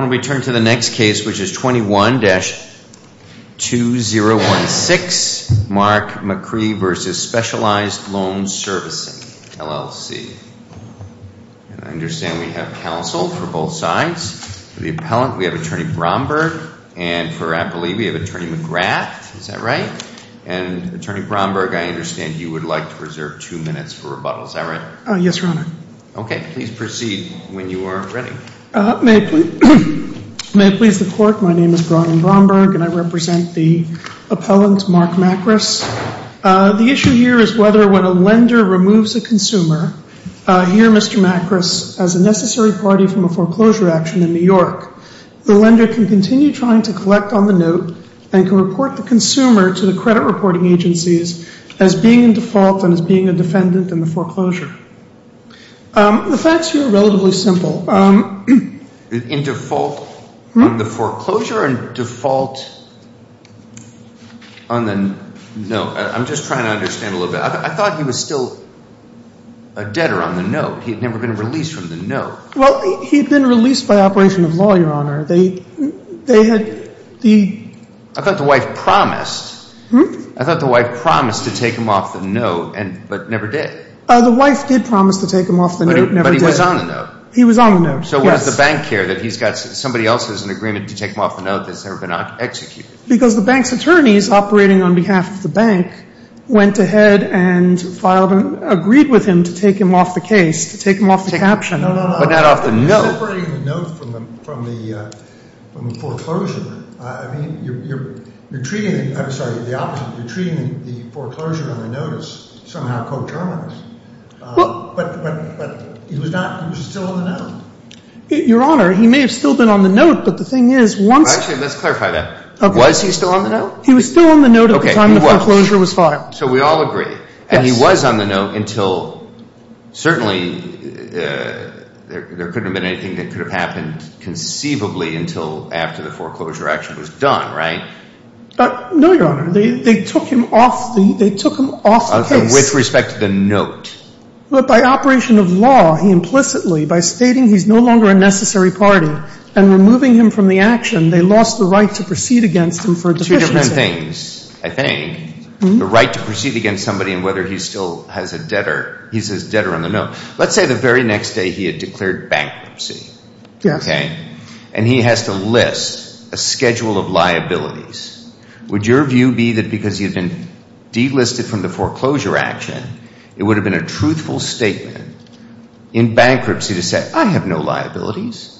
I want to return to the next case, which is 21-2016, Mark McCree v. Specialized Loan Servicing, LLC. I understand we have counsel for both sides. For the appellant, we have Attorney Bromberg. And for Appleby, we have Attorney McGrath. Is that right? And, Attorney Bromberg, I understand you would like to reserve two minutes for rebuttal. Is that right? Yes, Your Honor. Okay. Please proceed when you are ready. May it please the Court, my name is Brian Bromberg and I represent the appellant, Mark Macris. The issue here is whether when a lender removes a consumer, here Mr. Macris, as a necessary party from a foreclosure action in New York, the lender can continue trying to collect on the note and can report the consumer to the credit reporting agencies as being in default and as being a defendant in the foreclosure. The facts here are relatively simple. In default on the foreclosure and default on the note? I'm just trying to understand a little bit. I thought he was still a debtor on the note. He had never been released from the note. Well, he had been released by operation of law, Your Honor. They had the – I thought the wife promised. I thought the wife promised to take him off the note, but never did. The wife did promise to take him off the note, never did. But he was on the note. He was on the note, yes. So what does the bank care that he's got – somebody else has an agreement to take him off the note that's never been executed? Because the bank's attorneys operating on behalf of the bank went ahead and filed – agreed with him to take him off the case, to take him off the caption. No, no, no. But not off the note. Separating the note from the foreclosure, I mean, you're treating – I'm sorry, the opposite. But he was not – he was still on the note. Your Honor, he may have still been on the note, but the thing is, once – Actually, let's clarify that. Okay. Was he still on the note? He was still on the note at the time the foreclosure was filed. Okay, he was. So we all agree. Yes. And he was on the note until – certainly there couldn't have been anything that could have happened conceivably until after the foreclosure action was done, right? No, Your Honor. They took him off the – they took him off the case. Okay, with respect to the note. But by operation of law, he implicitly, by stating he's no longer a necessary party and removing him from the action, they lost the right to proceed against him for deficiency. Two different things, I think. The right to proceed against somebody and whether he still has a debtor – he's his debtor on the note. Let's say the very next day he had declared bankruptcy. Yes. And he has to list a schedule of liabilities. Would your view be that because he had been delisted from the foreclosure action, it would have been a truthful statement in bankruptcy to say, I have no liabilities?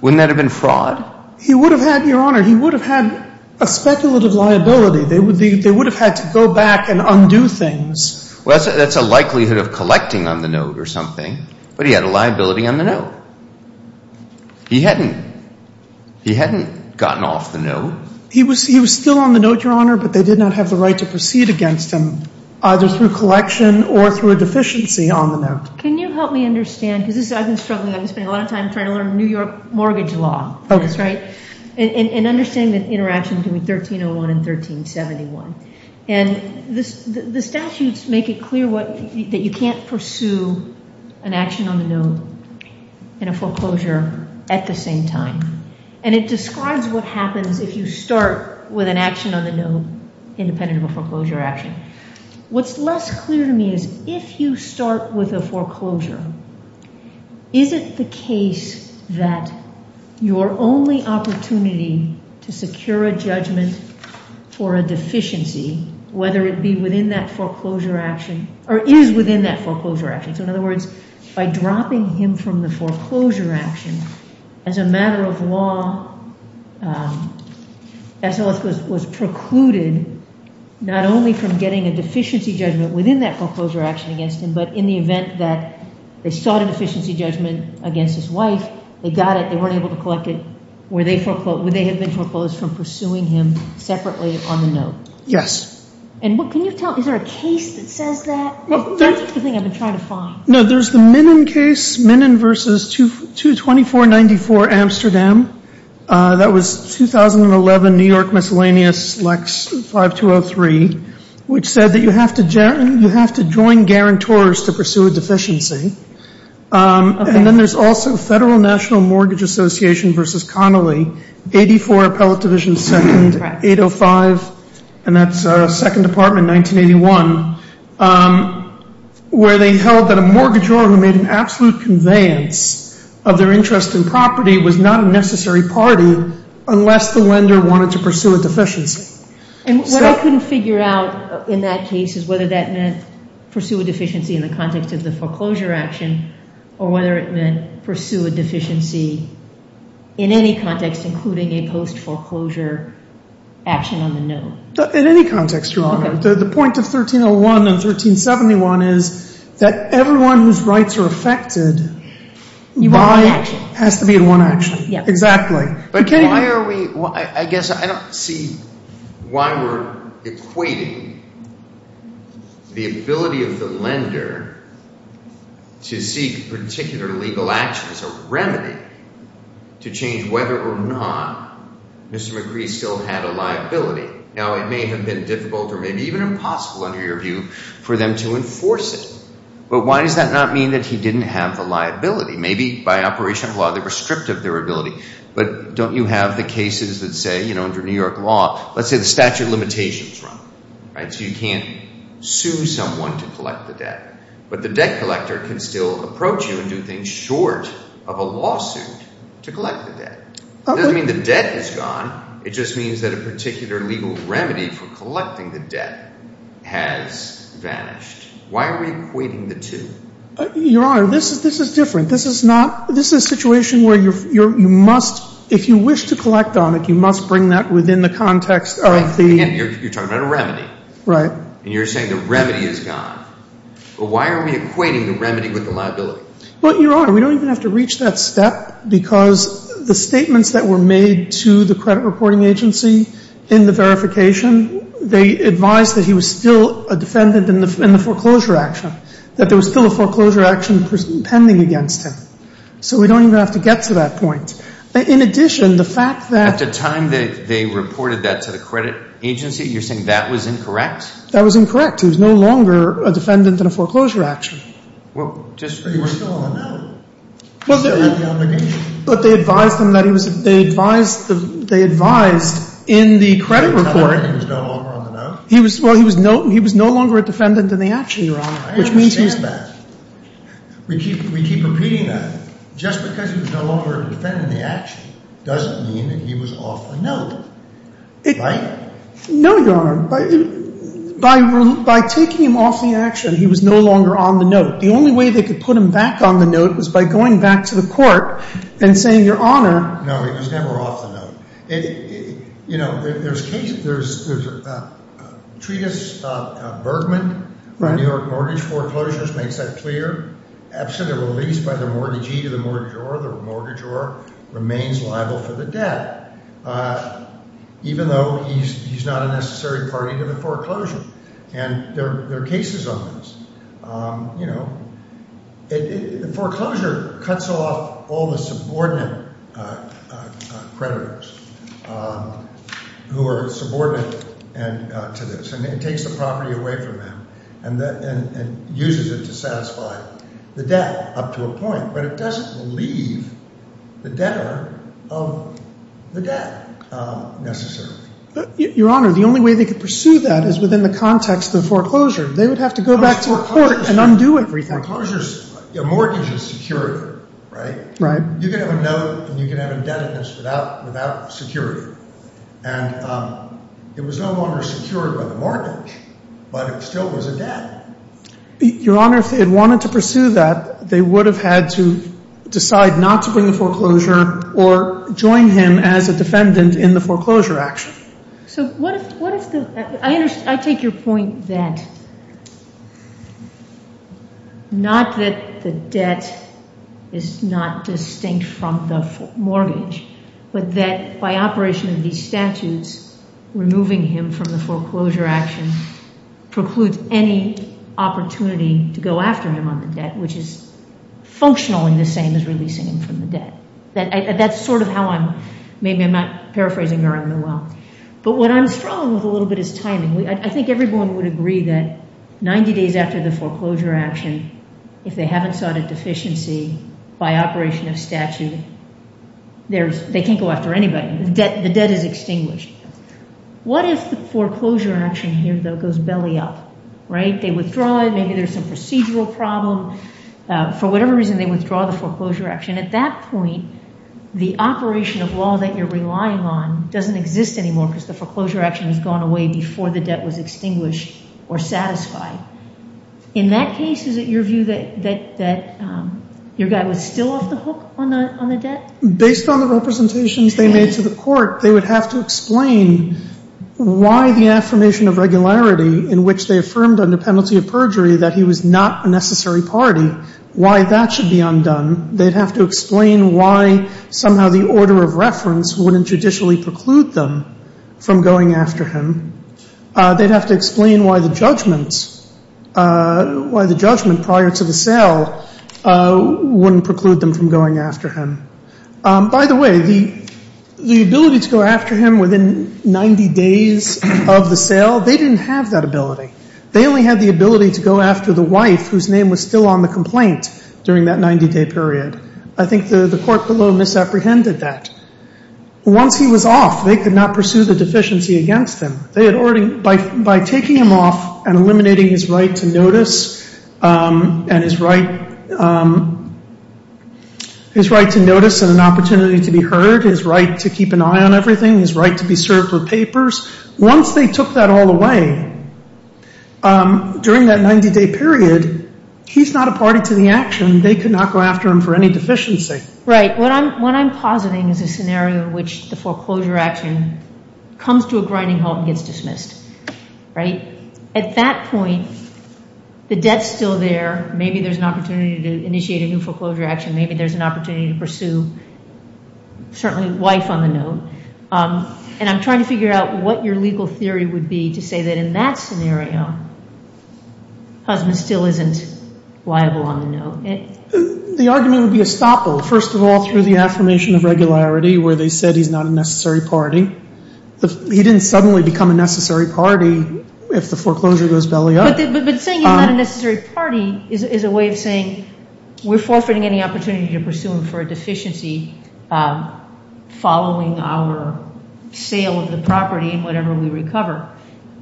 Wouldn't that have been fraud? He would have had – Your Honor, he would have had a speculative liability. They would have had to go back and undo things. Well, that's a likelihood of collecting on the note or something. But he had a liability on the note. He hadn't – he hadn't gotten off the note. He was still on the note, Your Honor, but they did not have the right to proceed against him, either through collection or through a deficiency on the note. Can you help me understand? Because this is – I've been struggling. I've been spending a lot of time trying to learn New York mortgage law. Okay. That's right. And understanding the interaction between 1301 and 1371. And the statutes make it clear what – that you can't pursue an action on the note and a foreclosure at the same time. And it describes what happens if you start with an action on the note independent of a foreclosure action. What's less clear to me is if you start with a foreclosure, is it the case that your only opportunity to secure a judgment for a deficiency, whether it be within that foreclosure action – or is within that foreclosure action – so, in other words, by dropping him from the foreclosure action, as a matter of law, S.O.S. was precluded not only from getting a deficiency judgment within that foreclosure action against him, but in the event that they sought a deficiency judgment against his wife, they got it, they weren't able to collect it, where they had been foreclosed from pursuing him separately on the note. Yes. And can you tell – is there a case that says that? That's the thing I've been trying to find. No, there's the Minnan case, Minnan v. 22494, Amsterdam. That was 2011 New York Miscellaneous Lex 5203, which said that you have to join guarantors to pursue a deficiency. And then there's also Federal National Mortgage Association v. Connolly, 84 Appellate Division 2nd, 805, and that's 2nd Department, 1981, where they held that a mortgagor who made an absolute conveyance of their interest in property was not a necessary party unless the lender wanted to pursue a deficiency. And what I couldn't figure out in that case is whether that meant pursue a deficiency in the context of the foreclosure action or whether it meant pursue a deficiency in any context, including a post-foreclosure action on the note. In any context, Your Honor. Okay. The point of 1301 and 1371 is that everyone whose rights are affected has to be in one action. Exactly. I guess I don't see why we're equating the ability of the lender to seek particular legal action as a remedy to change whether or not Mr. McCree still had a liability. Now, it may have been difficult or maybe even impossible under your view for them to enforce it, but why does that not mean that he didn't have the liability? Maybe by operation of law they were stripped of their ability, but don't you have the cases that say, you know, under New York law, let's say the statute of limitations is wrong, right? So you can't sue someone to collect the debt, but the debt collector can still approach you and do things short of a lawsuit to collect the debt. It doesn't mean the debt is gone. It just means that a particular legal remedy for collecting the debt has vanished. Why are we equating the two? Your Honor, this is different. This is not, this is a situation where you must, if you wish to collect on it, you must bring that within the context of the. Again, you're talking about a remedy. Right. And you're saying the remedy is gone. But why are we equating the remedy with the liability? Well, Your Honor, we don't even have to reach that step because the statements that were made to the credit reporting agency in the verification, they advised that he was still a defendant in the foreclosure action, that there was still a foreclosure action pending against him. So we don't even have to get to that point. In addition, the fact that. At the time that they reported that to the credit agency, you're saying that was incorrect? That was incorrect. He was no longer a defendant in a foreclosure action. Well, just. He was still on the note. He still had the obligation. But they advised him that he was, they advised, they advised in the credit report. He was no longer on the note? He was, well, he was no, he was no longer a defendant in the action, Your Honor. I understand that. We keep, we keep repeating that. Just because he was no longer a defendant in the action doesn't mean that he was off the note. Right? No, Your Honor. By taking him off the action, he was no longer on the note. The only way they could put him back on the note was by going back to the court and saying, Your Honor. No, he was never off the note. You know, there's cases, there's a treatise, Bergman, New York Mortgage Foreclosures makes that clear. After the release by the mortgagee to the mortgagor, the mortgagor remains liable for the debt. Even though he's not a necessary party to the foreclosure. And there are cases on this. You know, the foreclosure cuts off all the subordinate creditors who are subordinate to this. And it takes the property away from them and uses it to satisfy the debt up to a point. But it doesn't leave the debtor of the debt necessarily. Your Honor, the only way they could pursue that is within the context of the foreclosure. They would have to go back to a court and undo everything. Foreclosures, a mortgage is secure, right? Right. You can have a note and you can have indebtedness without security. And it was no longer secured by the mortgage, but it still was a debt. Your Honor, if they had wanted to pursue that, they would have had to decide not to bring the foreclosure or join him as a defendant in the foreclosure action. I take your point that not that the debt is not distinct from the mortgage, but that by operation of these statutes, removing him from the foreclosure action precludes any opportunity to go after him on the debt, which is functionally the same as releasing him from the debt. That's sort of how I'm, maybe I'm not paraphrasing very well. But what I'm strong with a little bit is timing. I think everyone would agree that 90 days after the foreclosure action, if they haven't sought a deficiency by operation of statute, they can't go after anybody. The debt is extinguished. What if the foreclosure action here, though, goes belly up, right? They withdraw it. Maybe there's some procedural problem. For whatever reason, they withdraw the foreclosure action. And at that point, the operation of law that you're relying on doesn't exist anymore because the foreclosure action has gone away before the debt was extinguished or satisfied. In that case, is it your view that your guy was still off the hook on the debt? Based on the representations they made to the court, they would have to explain why the affirmation of regularity in which they affirmed under penalty of perjury that he was not a necessary party, why that should be undone. They'd have to explain why somehow the order of reference wouldn't judicially preclude them from going after him. They'd have to explain why the judgment prior to the sale wouldn't preclude them from going after him. By the way, the ability to go after him within 90 days of the sale, they didn't have that ability. They only had the ability to go after the wife whose name was still on the complaint during that 90-day period. I think the court below misapprehended that. Once he was off, they could not pursue the deficiency against him. By taking him off and eliminating his right to notice and an opportunity to be heard, his right to keep an eye on everything, his right to be served for papers, once they took that all away during that 90-day period, he's not a party to the action. They could not go after him for any deficiency. Right. What I'm positing is a scenario in which the foreclosure action comes to a grinding halt and gets dismissed, right? At that point, the debt's still there. Maybe there's an opportunity to initiate a new foreclosure action. Maybe there's an opportunity to pursue certainly the wife on the note. I'm trying to figure out what your legal theory would be to say that in that scenario, the husband still isn't liable on the note. The argument would be a stopple. First of all, through the affirmation of regularity where they said he's not a necessary party. He didn't suddenly become a necessary party if the foreclosure goes belly up. But saying he's not a necessary party is a way of saying we're forfeiting any opportunity to pursue him for a deficiency following our sale of the property and whatever we recover.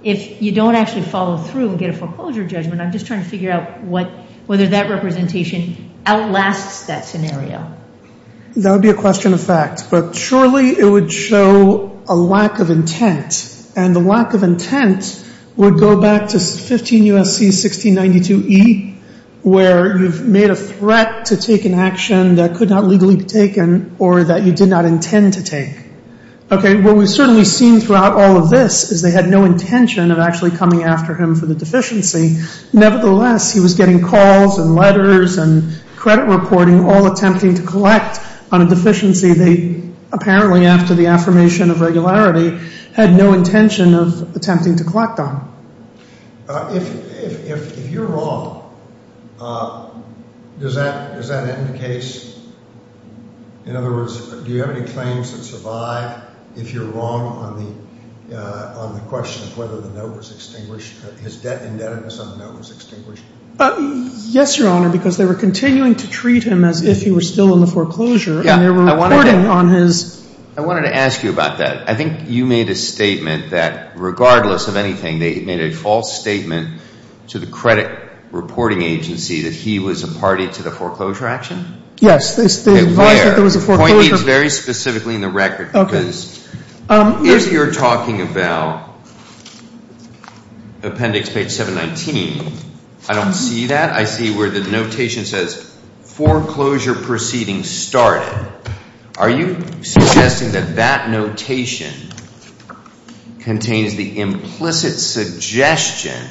If you don't actually follow through and get a foreclosure judgment, I'm just trying to figure out whether that representation outlasts that scenario. That would be a question of fact. But surely it would show a lack of intent. And the lack of intent would go back to 15 U.S.C. 1692E where you've made a threat to take an action that could not legally be taken or that you did not intend to take. What we've certainly seen throughout all of this is they had no intention of actually coming after him for the deficiency. Nevertheless, he was getting calls and letters and credit reporting all attempting to collect on a deficiency they apparently after the affirmation of regularity had no intention of attempting to collect on. If you're wrong, does that end the case? In other words, do you have any claims that survive if you're wrong on the question of whether the note was extinguished, his indebtedness on the note was extinguished? Yes, Your Honor, because they were continuing to treat him as if he were still in the foreclosure and they were reporting on his. I wanted to ask you about that. I think you made a statement that regardless of anything, they made a false statement to the credit reporting agency that he was a party to the foreclosure action? Yes, they advised that there was a foreclosure. Point needs very specifically in the record because if you're talking about appendix page 719, I don't see that. I see where the notation says foreclosure proceeding started. Are you suggesting that that notation contains the implicit suggestion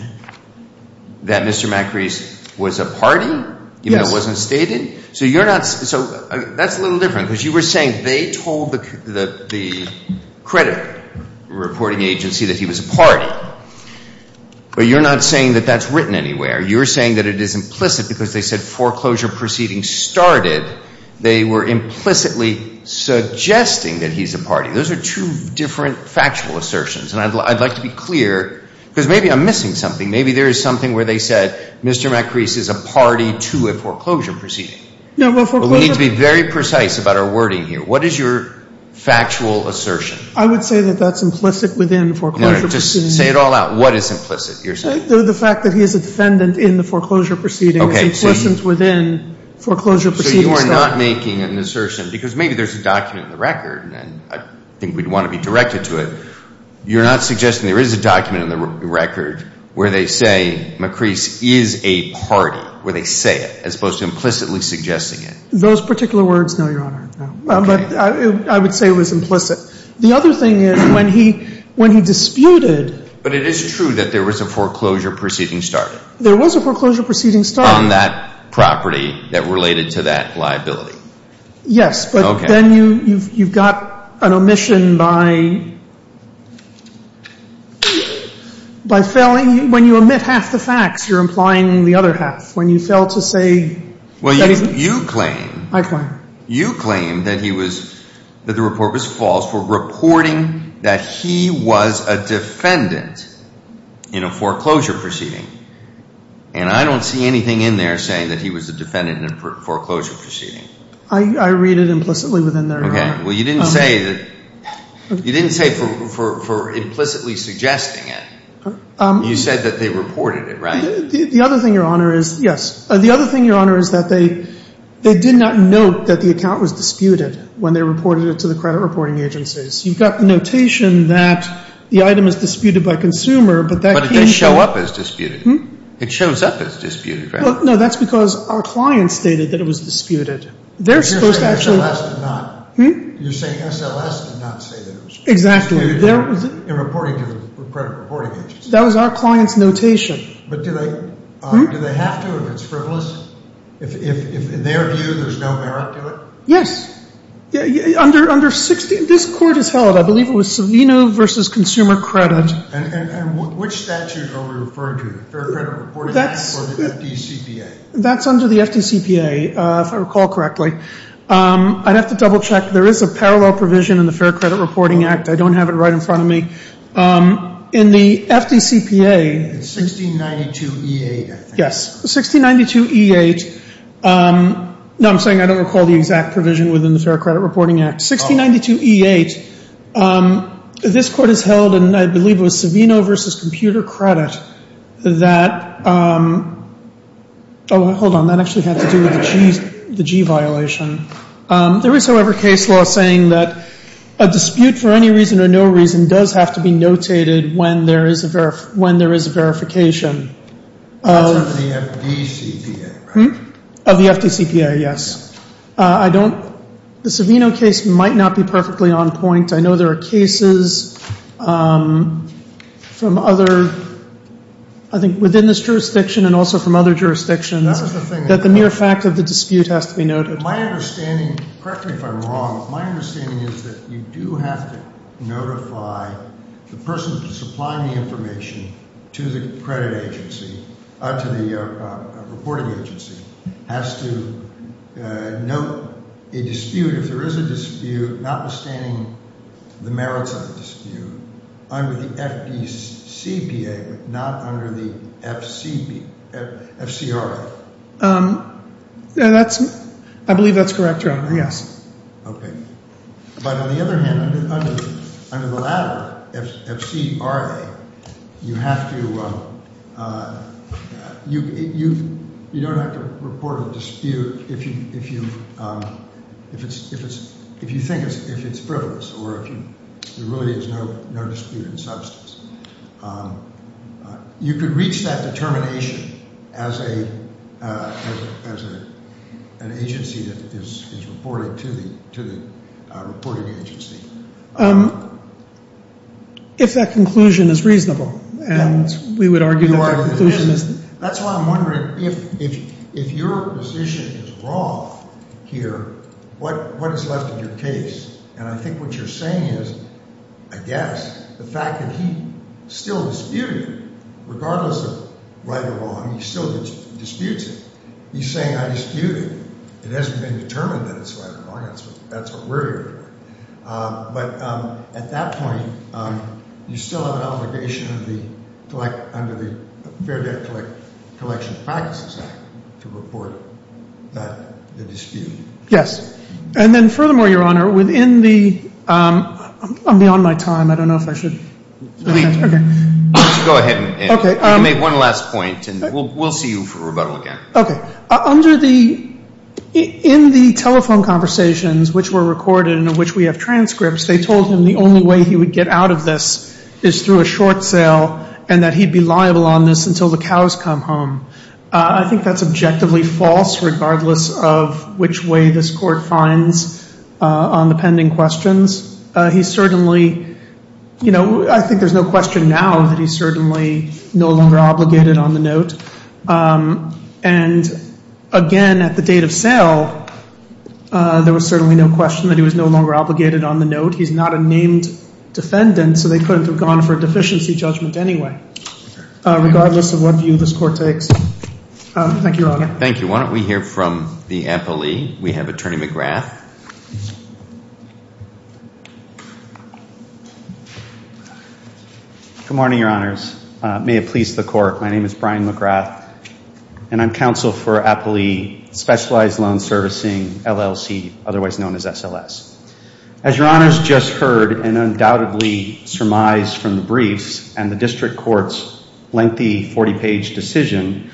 that Mr. Macri's was a party? Yes. Even though it wasn't stated? So you're not – so that's a little different because you were saying they told the credit reporting agency that he was a party. But you're not saying that that's written anywhere. You're saying that it is implicit because they said foreclosure proceeding started. They were implicitly suggesting that he's a party. Those are two different factual assertions. And I'd like to be clear because maybe I'm missing something. Maybe there is something where they said Mr. Macri's is a party to a foreclosure proceeding. No, well, foreclosure – But we need to be very precise about our wording here. What is your factual assertion? I would say that that's implicit within foreclosure proceeding. No, no, just say it all out. What is implicit, you're saying? The fact that he is a defendant in the foreclosure proceeding is implicit within foreclosure proceeding. So you are not making an assertion – because maybe there's a document in the record, and I think we'd want to be directed to it. You're not suggesting there is a document in the record where they say Macri's is a party, where they say it, as opposed to implicitly suggesting it? Those particular words, no, Your Honor, no. Okay. But I would say it was implicit. The other thing is when he disputed – But it is true that there was a foreclosure proceeding started. There was a foreclosure proceeding started. On that property that related to that liability. Yes, but then you've got an omission by failing – when you omit half the facts, you're implying the other half. When you fail to say – Well, you claim – I claim. You claim that he was – that the report was false for reporting that he was a defendant in a foreclosure proceeding. And I don't see anything in there saying that he was a defendant in a foreclosure proceeding. I read it implicitly within there, Your Honor. Okay. Well, you didn't say that – you didn't say for implicitly suggesting it. You said that they reported it, right? The other thing, Your Honor, is – yes. The other thing, Your Honor, is that they did not note that the account was disputed when they reported it to the credit reporting agencies. You've got the notation that the item is disputed by consumer, but that – It doesn't show up as disputed. It shows up as disputed, right? No, that's because our client stated that it was disputed. They're supposed to actually – You're saying SLS did not – Hmm? You're saying SLS did not say that it was disputed in reporting to the credit reporting agencies. That was our client's notation. But do they have to if it's frivolous? If, in their view, there's no merit to it? Yes. Under – this court has held, I believe it was Savino v. Consumer Credit. And which statute are we referring to, the Fair Credit Reporting Act or the FDCPA? That's under the FDCPA, if I recall correctly. I'd have to double-check. There is a parallel provision in the Fair Credit Reporting Act. I don't have it right in front of me. In the FDCPA – It's 1692E8, I think. Yes. 1692E8 – no, I'm saying I don't recall the exact provision within the Fair Credit Reporting Act. Oh. 1692E8. This court has held, and I believe it was Savino v. Computer Credit, that – oh, hold on. That actually had to do with the G violation. There is, however, case law saying that a dispute for any reason or no reason does have to be notated when there is a verification. That's under the FDCPA, right? Of the FDCPA, yes. I don't – the Savino case might not be perfectly on point. I know there are cases from other – I think within this jurisdiction and also from other jurisdictions that the mere fact of the dispute has to be noted. My understanding – correct me if I'm wrong – is that you do have to notify the person supplying the information to the credit agency – to the reporting agency has to note a dispute, if there is a dispute, notwithstanding the merits of the dispute, under the FDCPA, but not under the FCRA. That's – I believe that's correct, Your Honor, yes. Okay. But on the other hand, under the latter, FCRA, you have to – you don't have to report a dispute if you think it's frivolous or if there really is no dispute in substance. You could reach that determination as an agency that is reporting to the reporting agency. If that conclusion is reasonable, and we would argue that that conclusion is – That's why I'm wondering, if your position is wrong here, what is left of your case? And I think what you're saying is, I guess, the fact that he still disputed it, regardless of right or wrong, he still disputes it. He's saying I disputed it. It hasn't been determined that it's right or wrong. That's what we're here for. But at that point, you still have an obligation under the Fair Debt Collection Practices Act to report the dispute. Yes. And then furthermore, Your Honor, within the – I'm beyond my time. I don't know if I should – Go ahead. Okay. You can make one last point, and we'll see you for rebuttal again. Okay. Under the – in the telephone conversations which were recorded and in which we have transcripts, they told him the only way he would get out of this is through a short sale and that he'd be liable on this until the cows come home. I think that's objectively false, regardless of which way this Court finds on the pending questions. He certainly – you know, I think there's no question now that he's certainly no longer obligated on the note. And again, at the date of sale, there was certainly no question that he was no longer obligated on the note. He's not a named defendant, so they couldn't have gone for a deficiency judgment anyway, regardless of what view this Court takes. Thank you, Your Honor. Thank you. Why don't we hear from the appellee? We have Attorney McGrath. Good morning, Your Honors. May it please the Court, my name is Brian McGrath, and I'm counsel for Appellee Specialized Loan Servicing, LLC, otherwise known as SLS. As Your Honors just heard and undoubtedly surmised from the briefs and the district court's lengthy 40-page decision,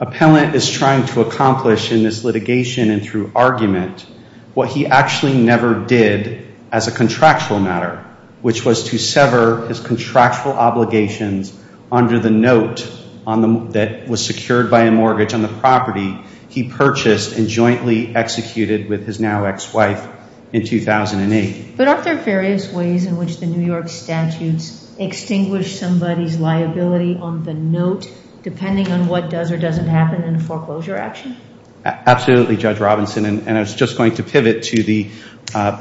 appellant is trying to accomplish in this litigation and through argument what he actually never did as a contractual matter, which was to sever his contractual obligations under the note that was secured by a mortgage on the property he purchased and jointly executed with his now ex-wife in 2008. But aren't there various ways in which the New York statutes extinguish somebody's liability on the note, depending on what does or doesn't happen in a foreclosure action? Absolutely, Judge Robinson, and I was just going to pivot to the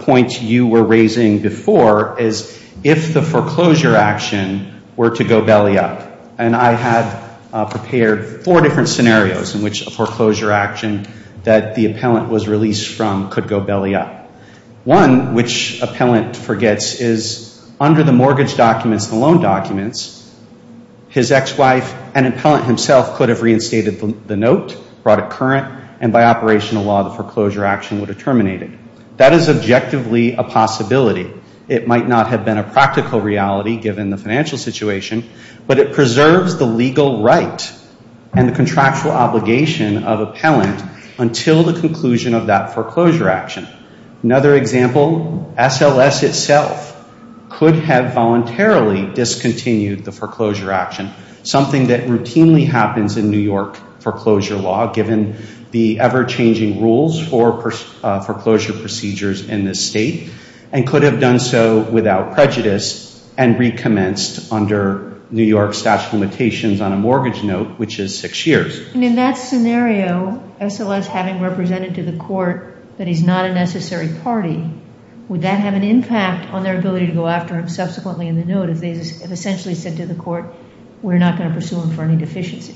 point you were raising before, is if the foreclosure action were to go belly up, and I had prepared four different scenarios in which a foreclosure action that the appellant was released from could go belly up. One, which appellant forgets, is under the mortgage documents, the loan documents, his ex-wife and appellant himself could have reinstated the note, brought it current, and by operational law the foreclosure action would have terminated. That is objectively a possibility. It might not have been a practical reality, given the financial situation, but it preserves the legal right and the contractual obligation of appellant until the conclusion of that foreclosure action. Another example, SLS itself could have voluntarily discontinued the foreclosure action, something that routinely happens in New York foreclosure law, given the ever-changing rules for foreclosure procedures in this state, and could have done so without prejudice and recommenced under New York statute of limitations on a mortgage note, which is six years. And in that scenario, SLS having represented to the court that he's not a necessary party, would that have an impact on their ability to go after him subsequently in the note if they essentially said to the court, we're not going to pursue him for any deficiency?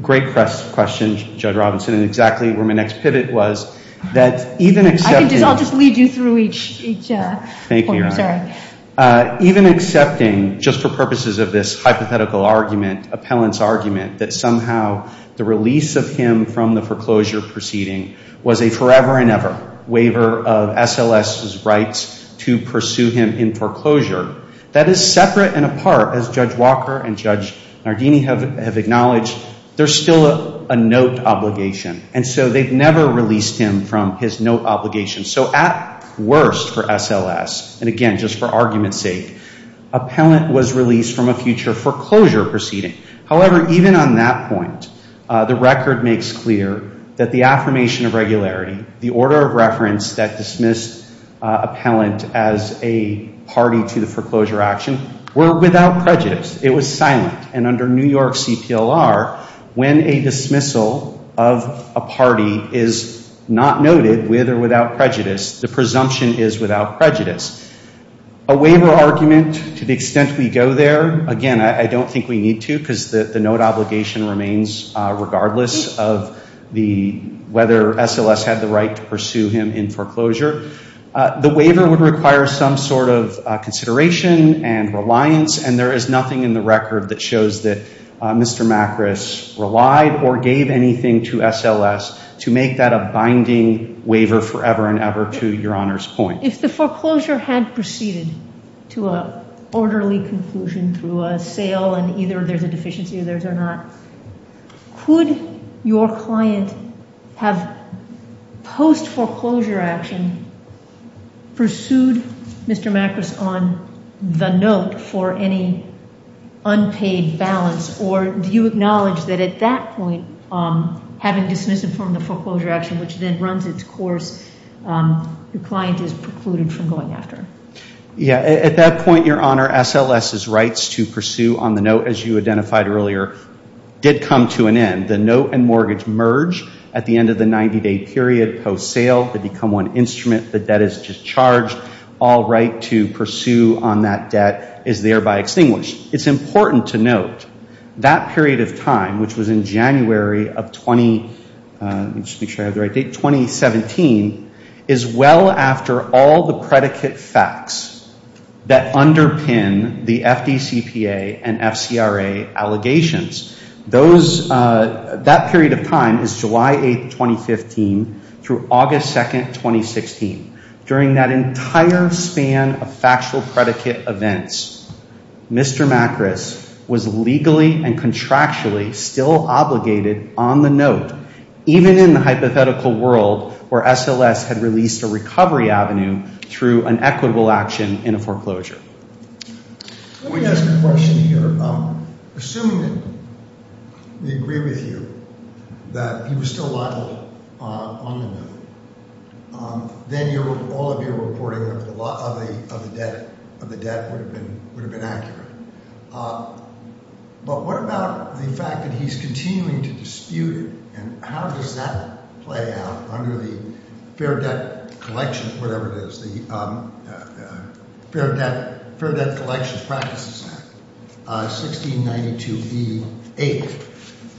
Great question, Judge Robinson, and exactly where my next pivot was. I'll just lead you through each point. Thank you. Even accepting, just for purposes of this hypothetical argument, appellant's argument, that somehow the release of him from the foreclosure proceeding was a forever and ever waiver of SLS's rights to pursue him in foreclosure, that is separate and apart, as Judge Walker and Judge Nardini have acknowledged, there's still a note obligation. And so they've never released him from his note obligation. So at worst for SLS, and again, just for argument's sake, appellant was released from a future foreclosure proceeding. However, even on that point, the record makes clear that the affirmation of regularity, the order of reference that dismissed appellant as a party to the foreclosure action, were without prejudice. It was silent. And under New York CPLR, when a dismissal of a party is not noted with or without prejudice, the presumption is without prejudice. A waiver argument, to the extent we go there, again, I don't think we need to, because the note obligation remains regardless of whether SLS had the right to pursue him in foreclosure. The waiver would require some sort of consideration and reliance, and there is nothing in the record that shows that Mr. Macris relied or gave anything to SLS to make that a binding waiver forever and ever to Your Honor's point. If the foreclosure had proceeded to an orderly conclusion through a sale and either there's a deficiency of theirs or not, could your client have post-foreclosure action pursued Mr. Macris on the note for any unpaid balance, or do you acknowledge that at that point, having dismissed him from the foreclosure action, which then runs its course, your client is precluded from going after him? Yeah. At that point, Your Honor, SLS's rights to pursue on the note, as you identified earlier, did come to an end. The note and mortgage merge at the end of the 90-day period post-sale. They become one instrument. The debt is discharged. All right to pursue on that debt is thereby extinguished. It's important to note that period of time, which was in January of 2017, is well after all the predicate facts that underpin the FDCPA and FCRA allegations. That period of time is July 8, 2015 through August 2, 2016. During that entire span of factual predicate events, Mr. Macris was legally and contractually still obligated on the note. Even in the hypothetical world where SLS had released a recovery avenue through an equitable action in a foreclosure. Let me ask a question here. Assuming we agree with you that he was still liable on the note, then all of your reporting of the debt would have been accurate. But what about the fact that he's continuing to dispute it? And how does that play out under the Fair Debt Collection, whatever it is, the Fair Debt Collections Practices Act, 1692b8,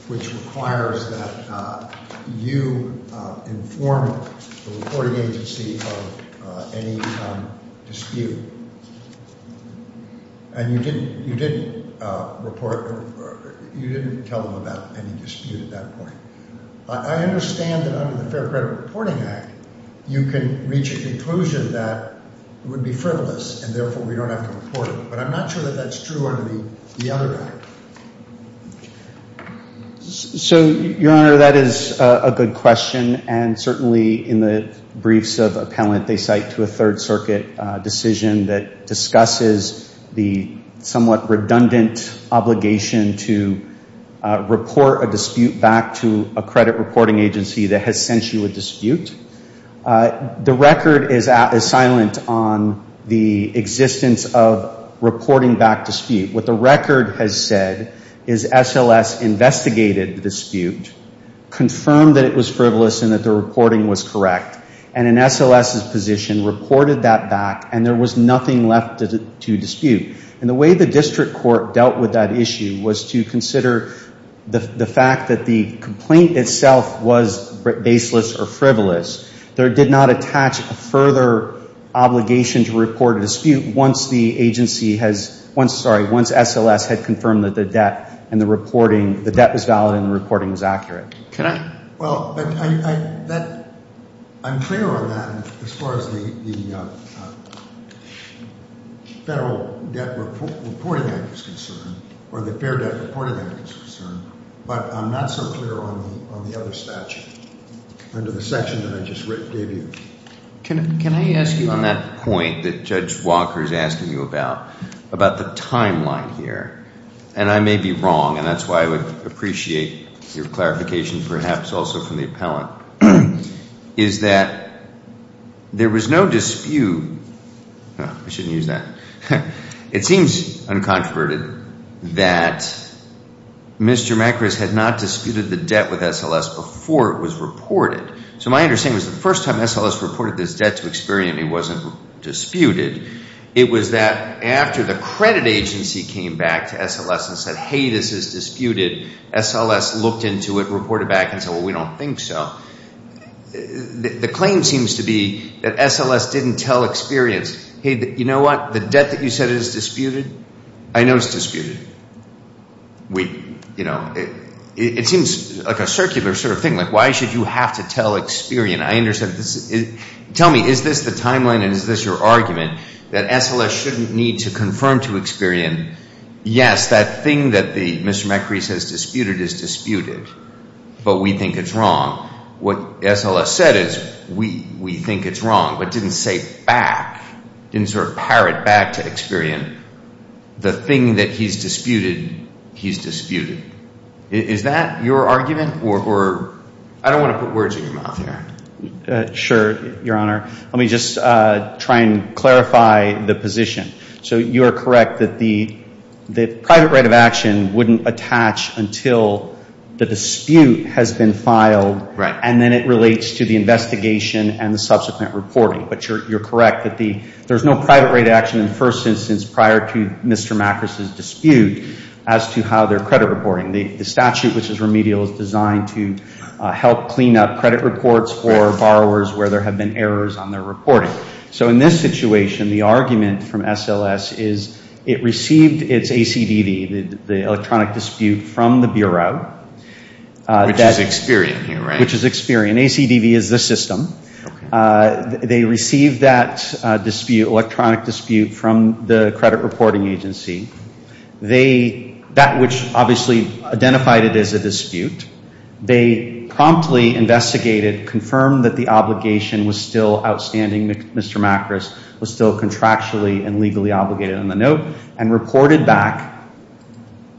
which requires that you inform the reporting agency of any dispute? And you didn't tell them about any dispute at that point. I understand that under the Fair Credit Reporting Act, you can reach a conclusion that it would be frivolous and therefore we don't have to report it, but I'm not sure that that's true under the other act. So, Your Honor, that is a good question. And certainly in the briefs of appellant, they cite to a Third Circuit decision that discusses the somewhat redundant obligation to report a dispute back to a credit reporting agency that has sent you a dispute. The record is silent on the existence of reporting back dispute. What the record has said is SLS investigated the dispute, confirmed that it was frivolous and that the reporting was correct, and an SLS's position reported that back and there was nothing left to dispute. And the way the district court dealt with that issue was to consider the fact that the complaint itself was baseless or frivolous. There did not attach a further obligation to report a dispute once the agency has, once, sorry, once SLS had confirmed that the debt and the reporting, the debt was valid and the reporting was accurate. Can I? Well, I'm clear on that as far as the Federal Debt Reporting Act is concerned or the Fair Debt Reporting Act is concerned, but I'm not so clear on the other statute under the section that I just gave you. Can I ask you on that point that Judge Walker is asking you about, about the timeline here? And I may be wrong, and that's why I would appreciate your clarification perhaps also from the appellant, is that there was no dispute. I shouldn't use that. It seems uncontroverted that Mr. Macris had not disputed the debt with SLS before it was reported. So my understanding is the first time SLS reported this debt to Experian, it wasn't disputed. It was that after the credit agency came back to SLS and said, hey, this is disputed, SLS looked into it, reported back and said, well, we don't think so. The claim seems to be that SLS didn't tell Experian, hey, you know what, the debt that you said is disputed, I know it's disputed. We, you know, it seems like a circular sort of thing, like why should you have to tell Experian? I understand this. Tell me, is this the timeline and is this your argument that SLS shouldn't need to confirm to Experian? Yes, that thing that Mr. Macris has disputed is disputed, but we think it's wrong. What SLS said is we think it's wrong, but didn't say back, didn't sort of parrot back to Experian. The thing that he's disputed, he's disputed. Is that your argument? Or I don't want to put words in your mouth here. Sure, Your Honor. Let me just try and clarify the position. So you are correct that the private right of action wouldn't attach until the dispute has been filed. Right. And then it relates to the investigation and the subsequent reporting. But you're correct that there's no private right of action in the first instance prior to Mr. Macris' dispute as to how their credit reporting. The statute, which is remedial, is designed to help clean up credit reports for borrowers where there have been errors on their reporting. Sure. So in this situation, the argument from SLS is it received its ACDD, the electronic dispute, from the Bureau. Which is Experian here, right? Which is Experian. ACDD is the system. They received that dispute, electronic dispute, from the credit reporting agency. That which obviously identified it as a dispute. They promptly investigated, confirmed that the obligation was still outstanding. Mr. Macris was still contractually and legally obligated on the note. And reported back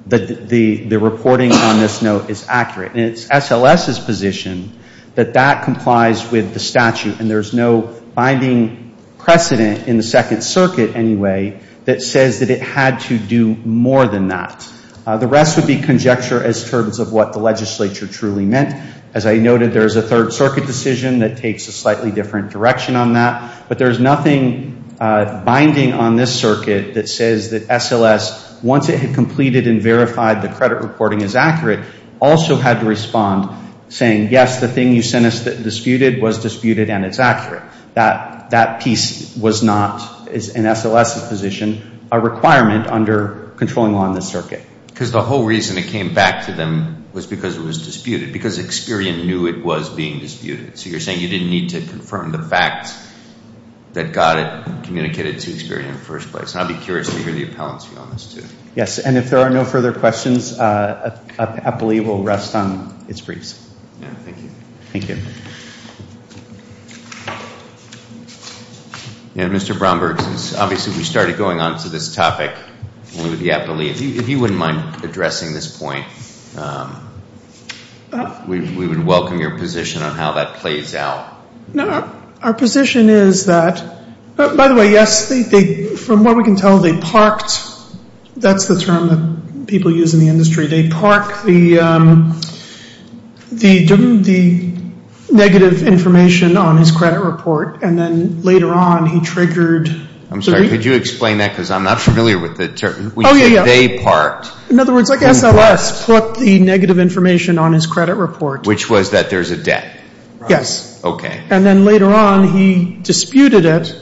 that the reporting on this note is accurate. And it's SLS' position that that complies with the statute. And there's no binding precedent in the Second Circuit anyway that says that it had to do more than that. The rest would be conjecture as terms of what the legislature truly meant. As I noted, there's a Third Circuit decision that takes a slightly different direction on that. But there's nothing binding on this circuit that says that SLS, once it had completed and verified the credit reporting is accurate, also had to respond saying, yes, the thing you sent us that disputed was disputed and it's accurate. That piece was not, in SLS' position, a requirement under controlling law in this circuit. Because the whole reason it came back to them was because it was disputed. Because Experian knew it was being disputed. So you're saying you didn't need to confirm the fact that got it communicated to Experian in the first place. And I'd be curious to hear the appellants view on this too. Yes, and if there are no further questions, APLE will rest on its briefs. Thank you. Thank you. Mr. Brownberg, since obviously we started going on to this topic, if you wouldn't mind addressing this point, we would welcome your position on how that plays out. Our position is that, by the way, yes, from what we can tell, they parked. That's the term that people use in the industry. They park the negative information on his credit report and then later on he triggered. I'm sorry. Could you explain that? Because I'm not familiar with the term. Oh, yeah, yeah. They parked. In other words, like SLS put the negative information on his credit report. Which was that there's a debt. Yes. Okay. And then later on he disputed it.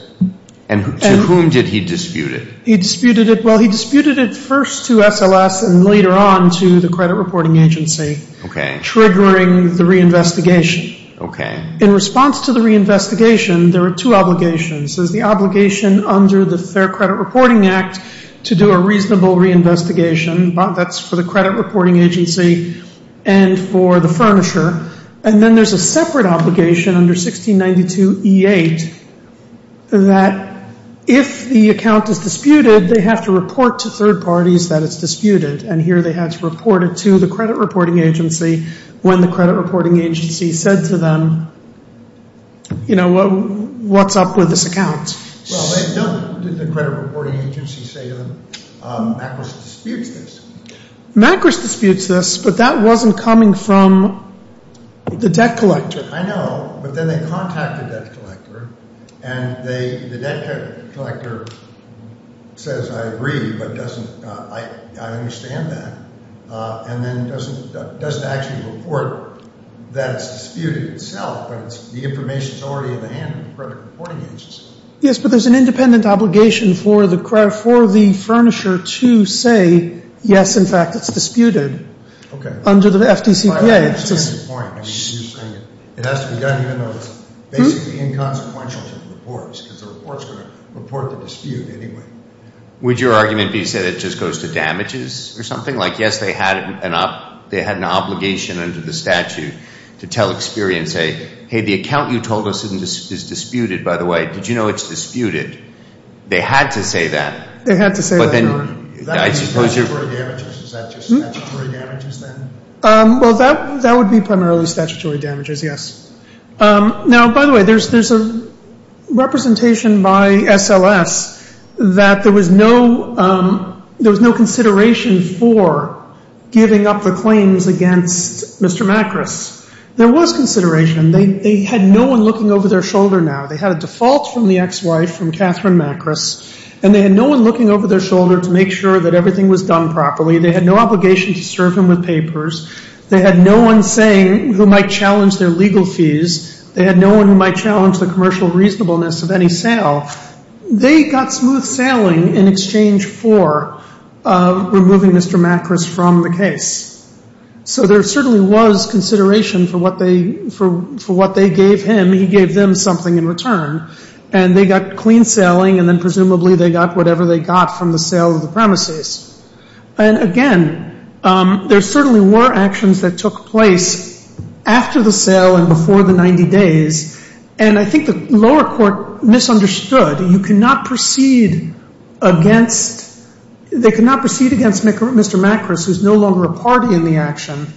And to whom did he dispute it? Well, he disputed it first to SLS and later on to the credit reporting agency. Okay. Triggering the reinvestigation. Okay. In response to the reinvestigation, there were two obligations. There's the obligation under the Fair Credit Reporting Act to do a reasonable reinvestigation. That's for the credit reporting agency and for the furnisher. And then there's a separate obligation under 1692E8 that if the account is disputed, they have to report to third parties that it's disputed. And here they had to report it to the credit reporting agency when the credit reporting agency said to them, you know, what's up with this account? Well, they don't. Did the credit reporting agency say to them, MACRS disputes this? MACRS disputes this, but that wasn't coming from the debt collector. I know. But then they contacted the debt collector, and the debt collector says, I agree, but I understand that. And then doesn't actually report that it's disputed itself, but the information is already in the hands of the credit reporting agency. Yes, but there's an independent obligation for the furnisher to say, yes, in fact, it's disputed under the FDCPA. I understand the point. It has to be done even though it's basically inconsequential to the reports because the reports are going to report the dispute anyway. Would your argument be that it just goes to damages or something? Like, yes, they had an obligation under the statute to tell Experia and say, hey, the account you told us is disputed, by the way, did you know it's disputed? They had to say that. They had to say that. Is that just statutory damages then? Well, that would be primarily statutory damages, yes. Now, by the way, there's a representation by SLS that there was no consideration for giving up the claims against Mr. MACRS. There was consideration. They had no one looking over their shoulder now. They had a default from the ex-wife, from Catherine MACRS, and they had no one looking over their shoulder to make sure that everything was done properly. They had no obligation to serve him with papers. They had no one saying who might challenge their legal fees. They had no one who might challenge the commercial reasonableness of any sale. They got smooth sailing in exchange for removing Mr. MACRS from the case. So there certainly was consideration for what they gave him. He gave them something in return. And they got clean sailing, and then presumably they got whatever they got from the sale of the premises. And, again, there certainly were actions that took place after the sale and before the 90 days. And I think the lower court misunderstood. You cannot proceed against Mr. MACRS, who's no longer a party in the action,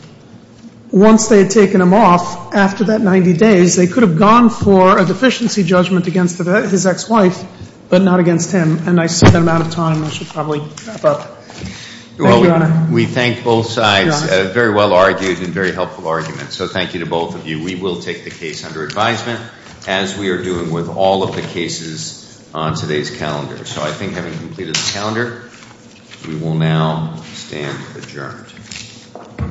once they had taken him off after that 90 days. They could have gone for a deficiency judgment against his ex-wife, but not against him. And I said that amount of time, and I should probably wrap up. Thank you, Your Honor. We thank both sides. Very well argued and very helpful arguments. So thank you to both of you. We will take the case under advisement, as we are doing with all of the cases on today's calendar. So I think having completed the calendar, we will now stand adjourned.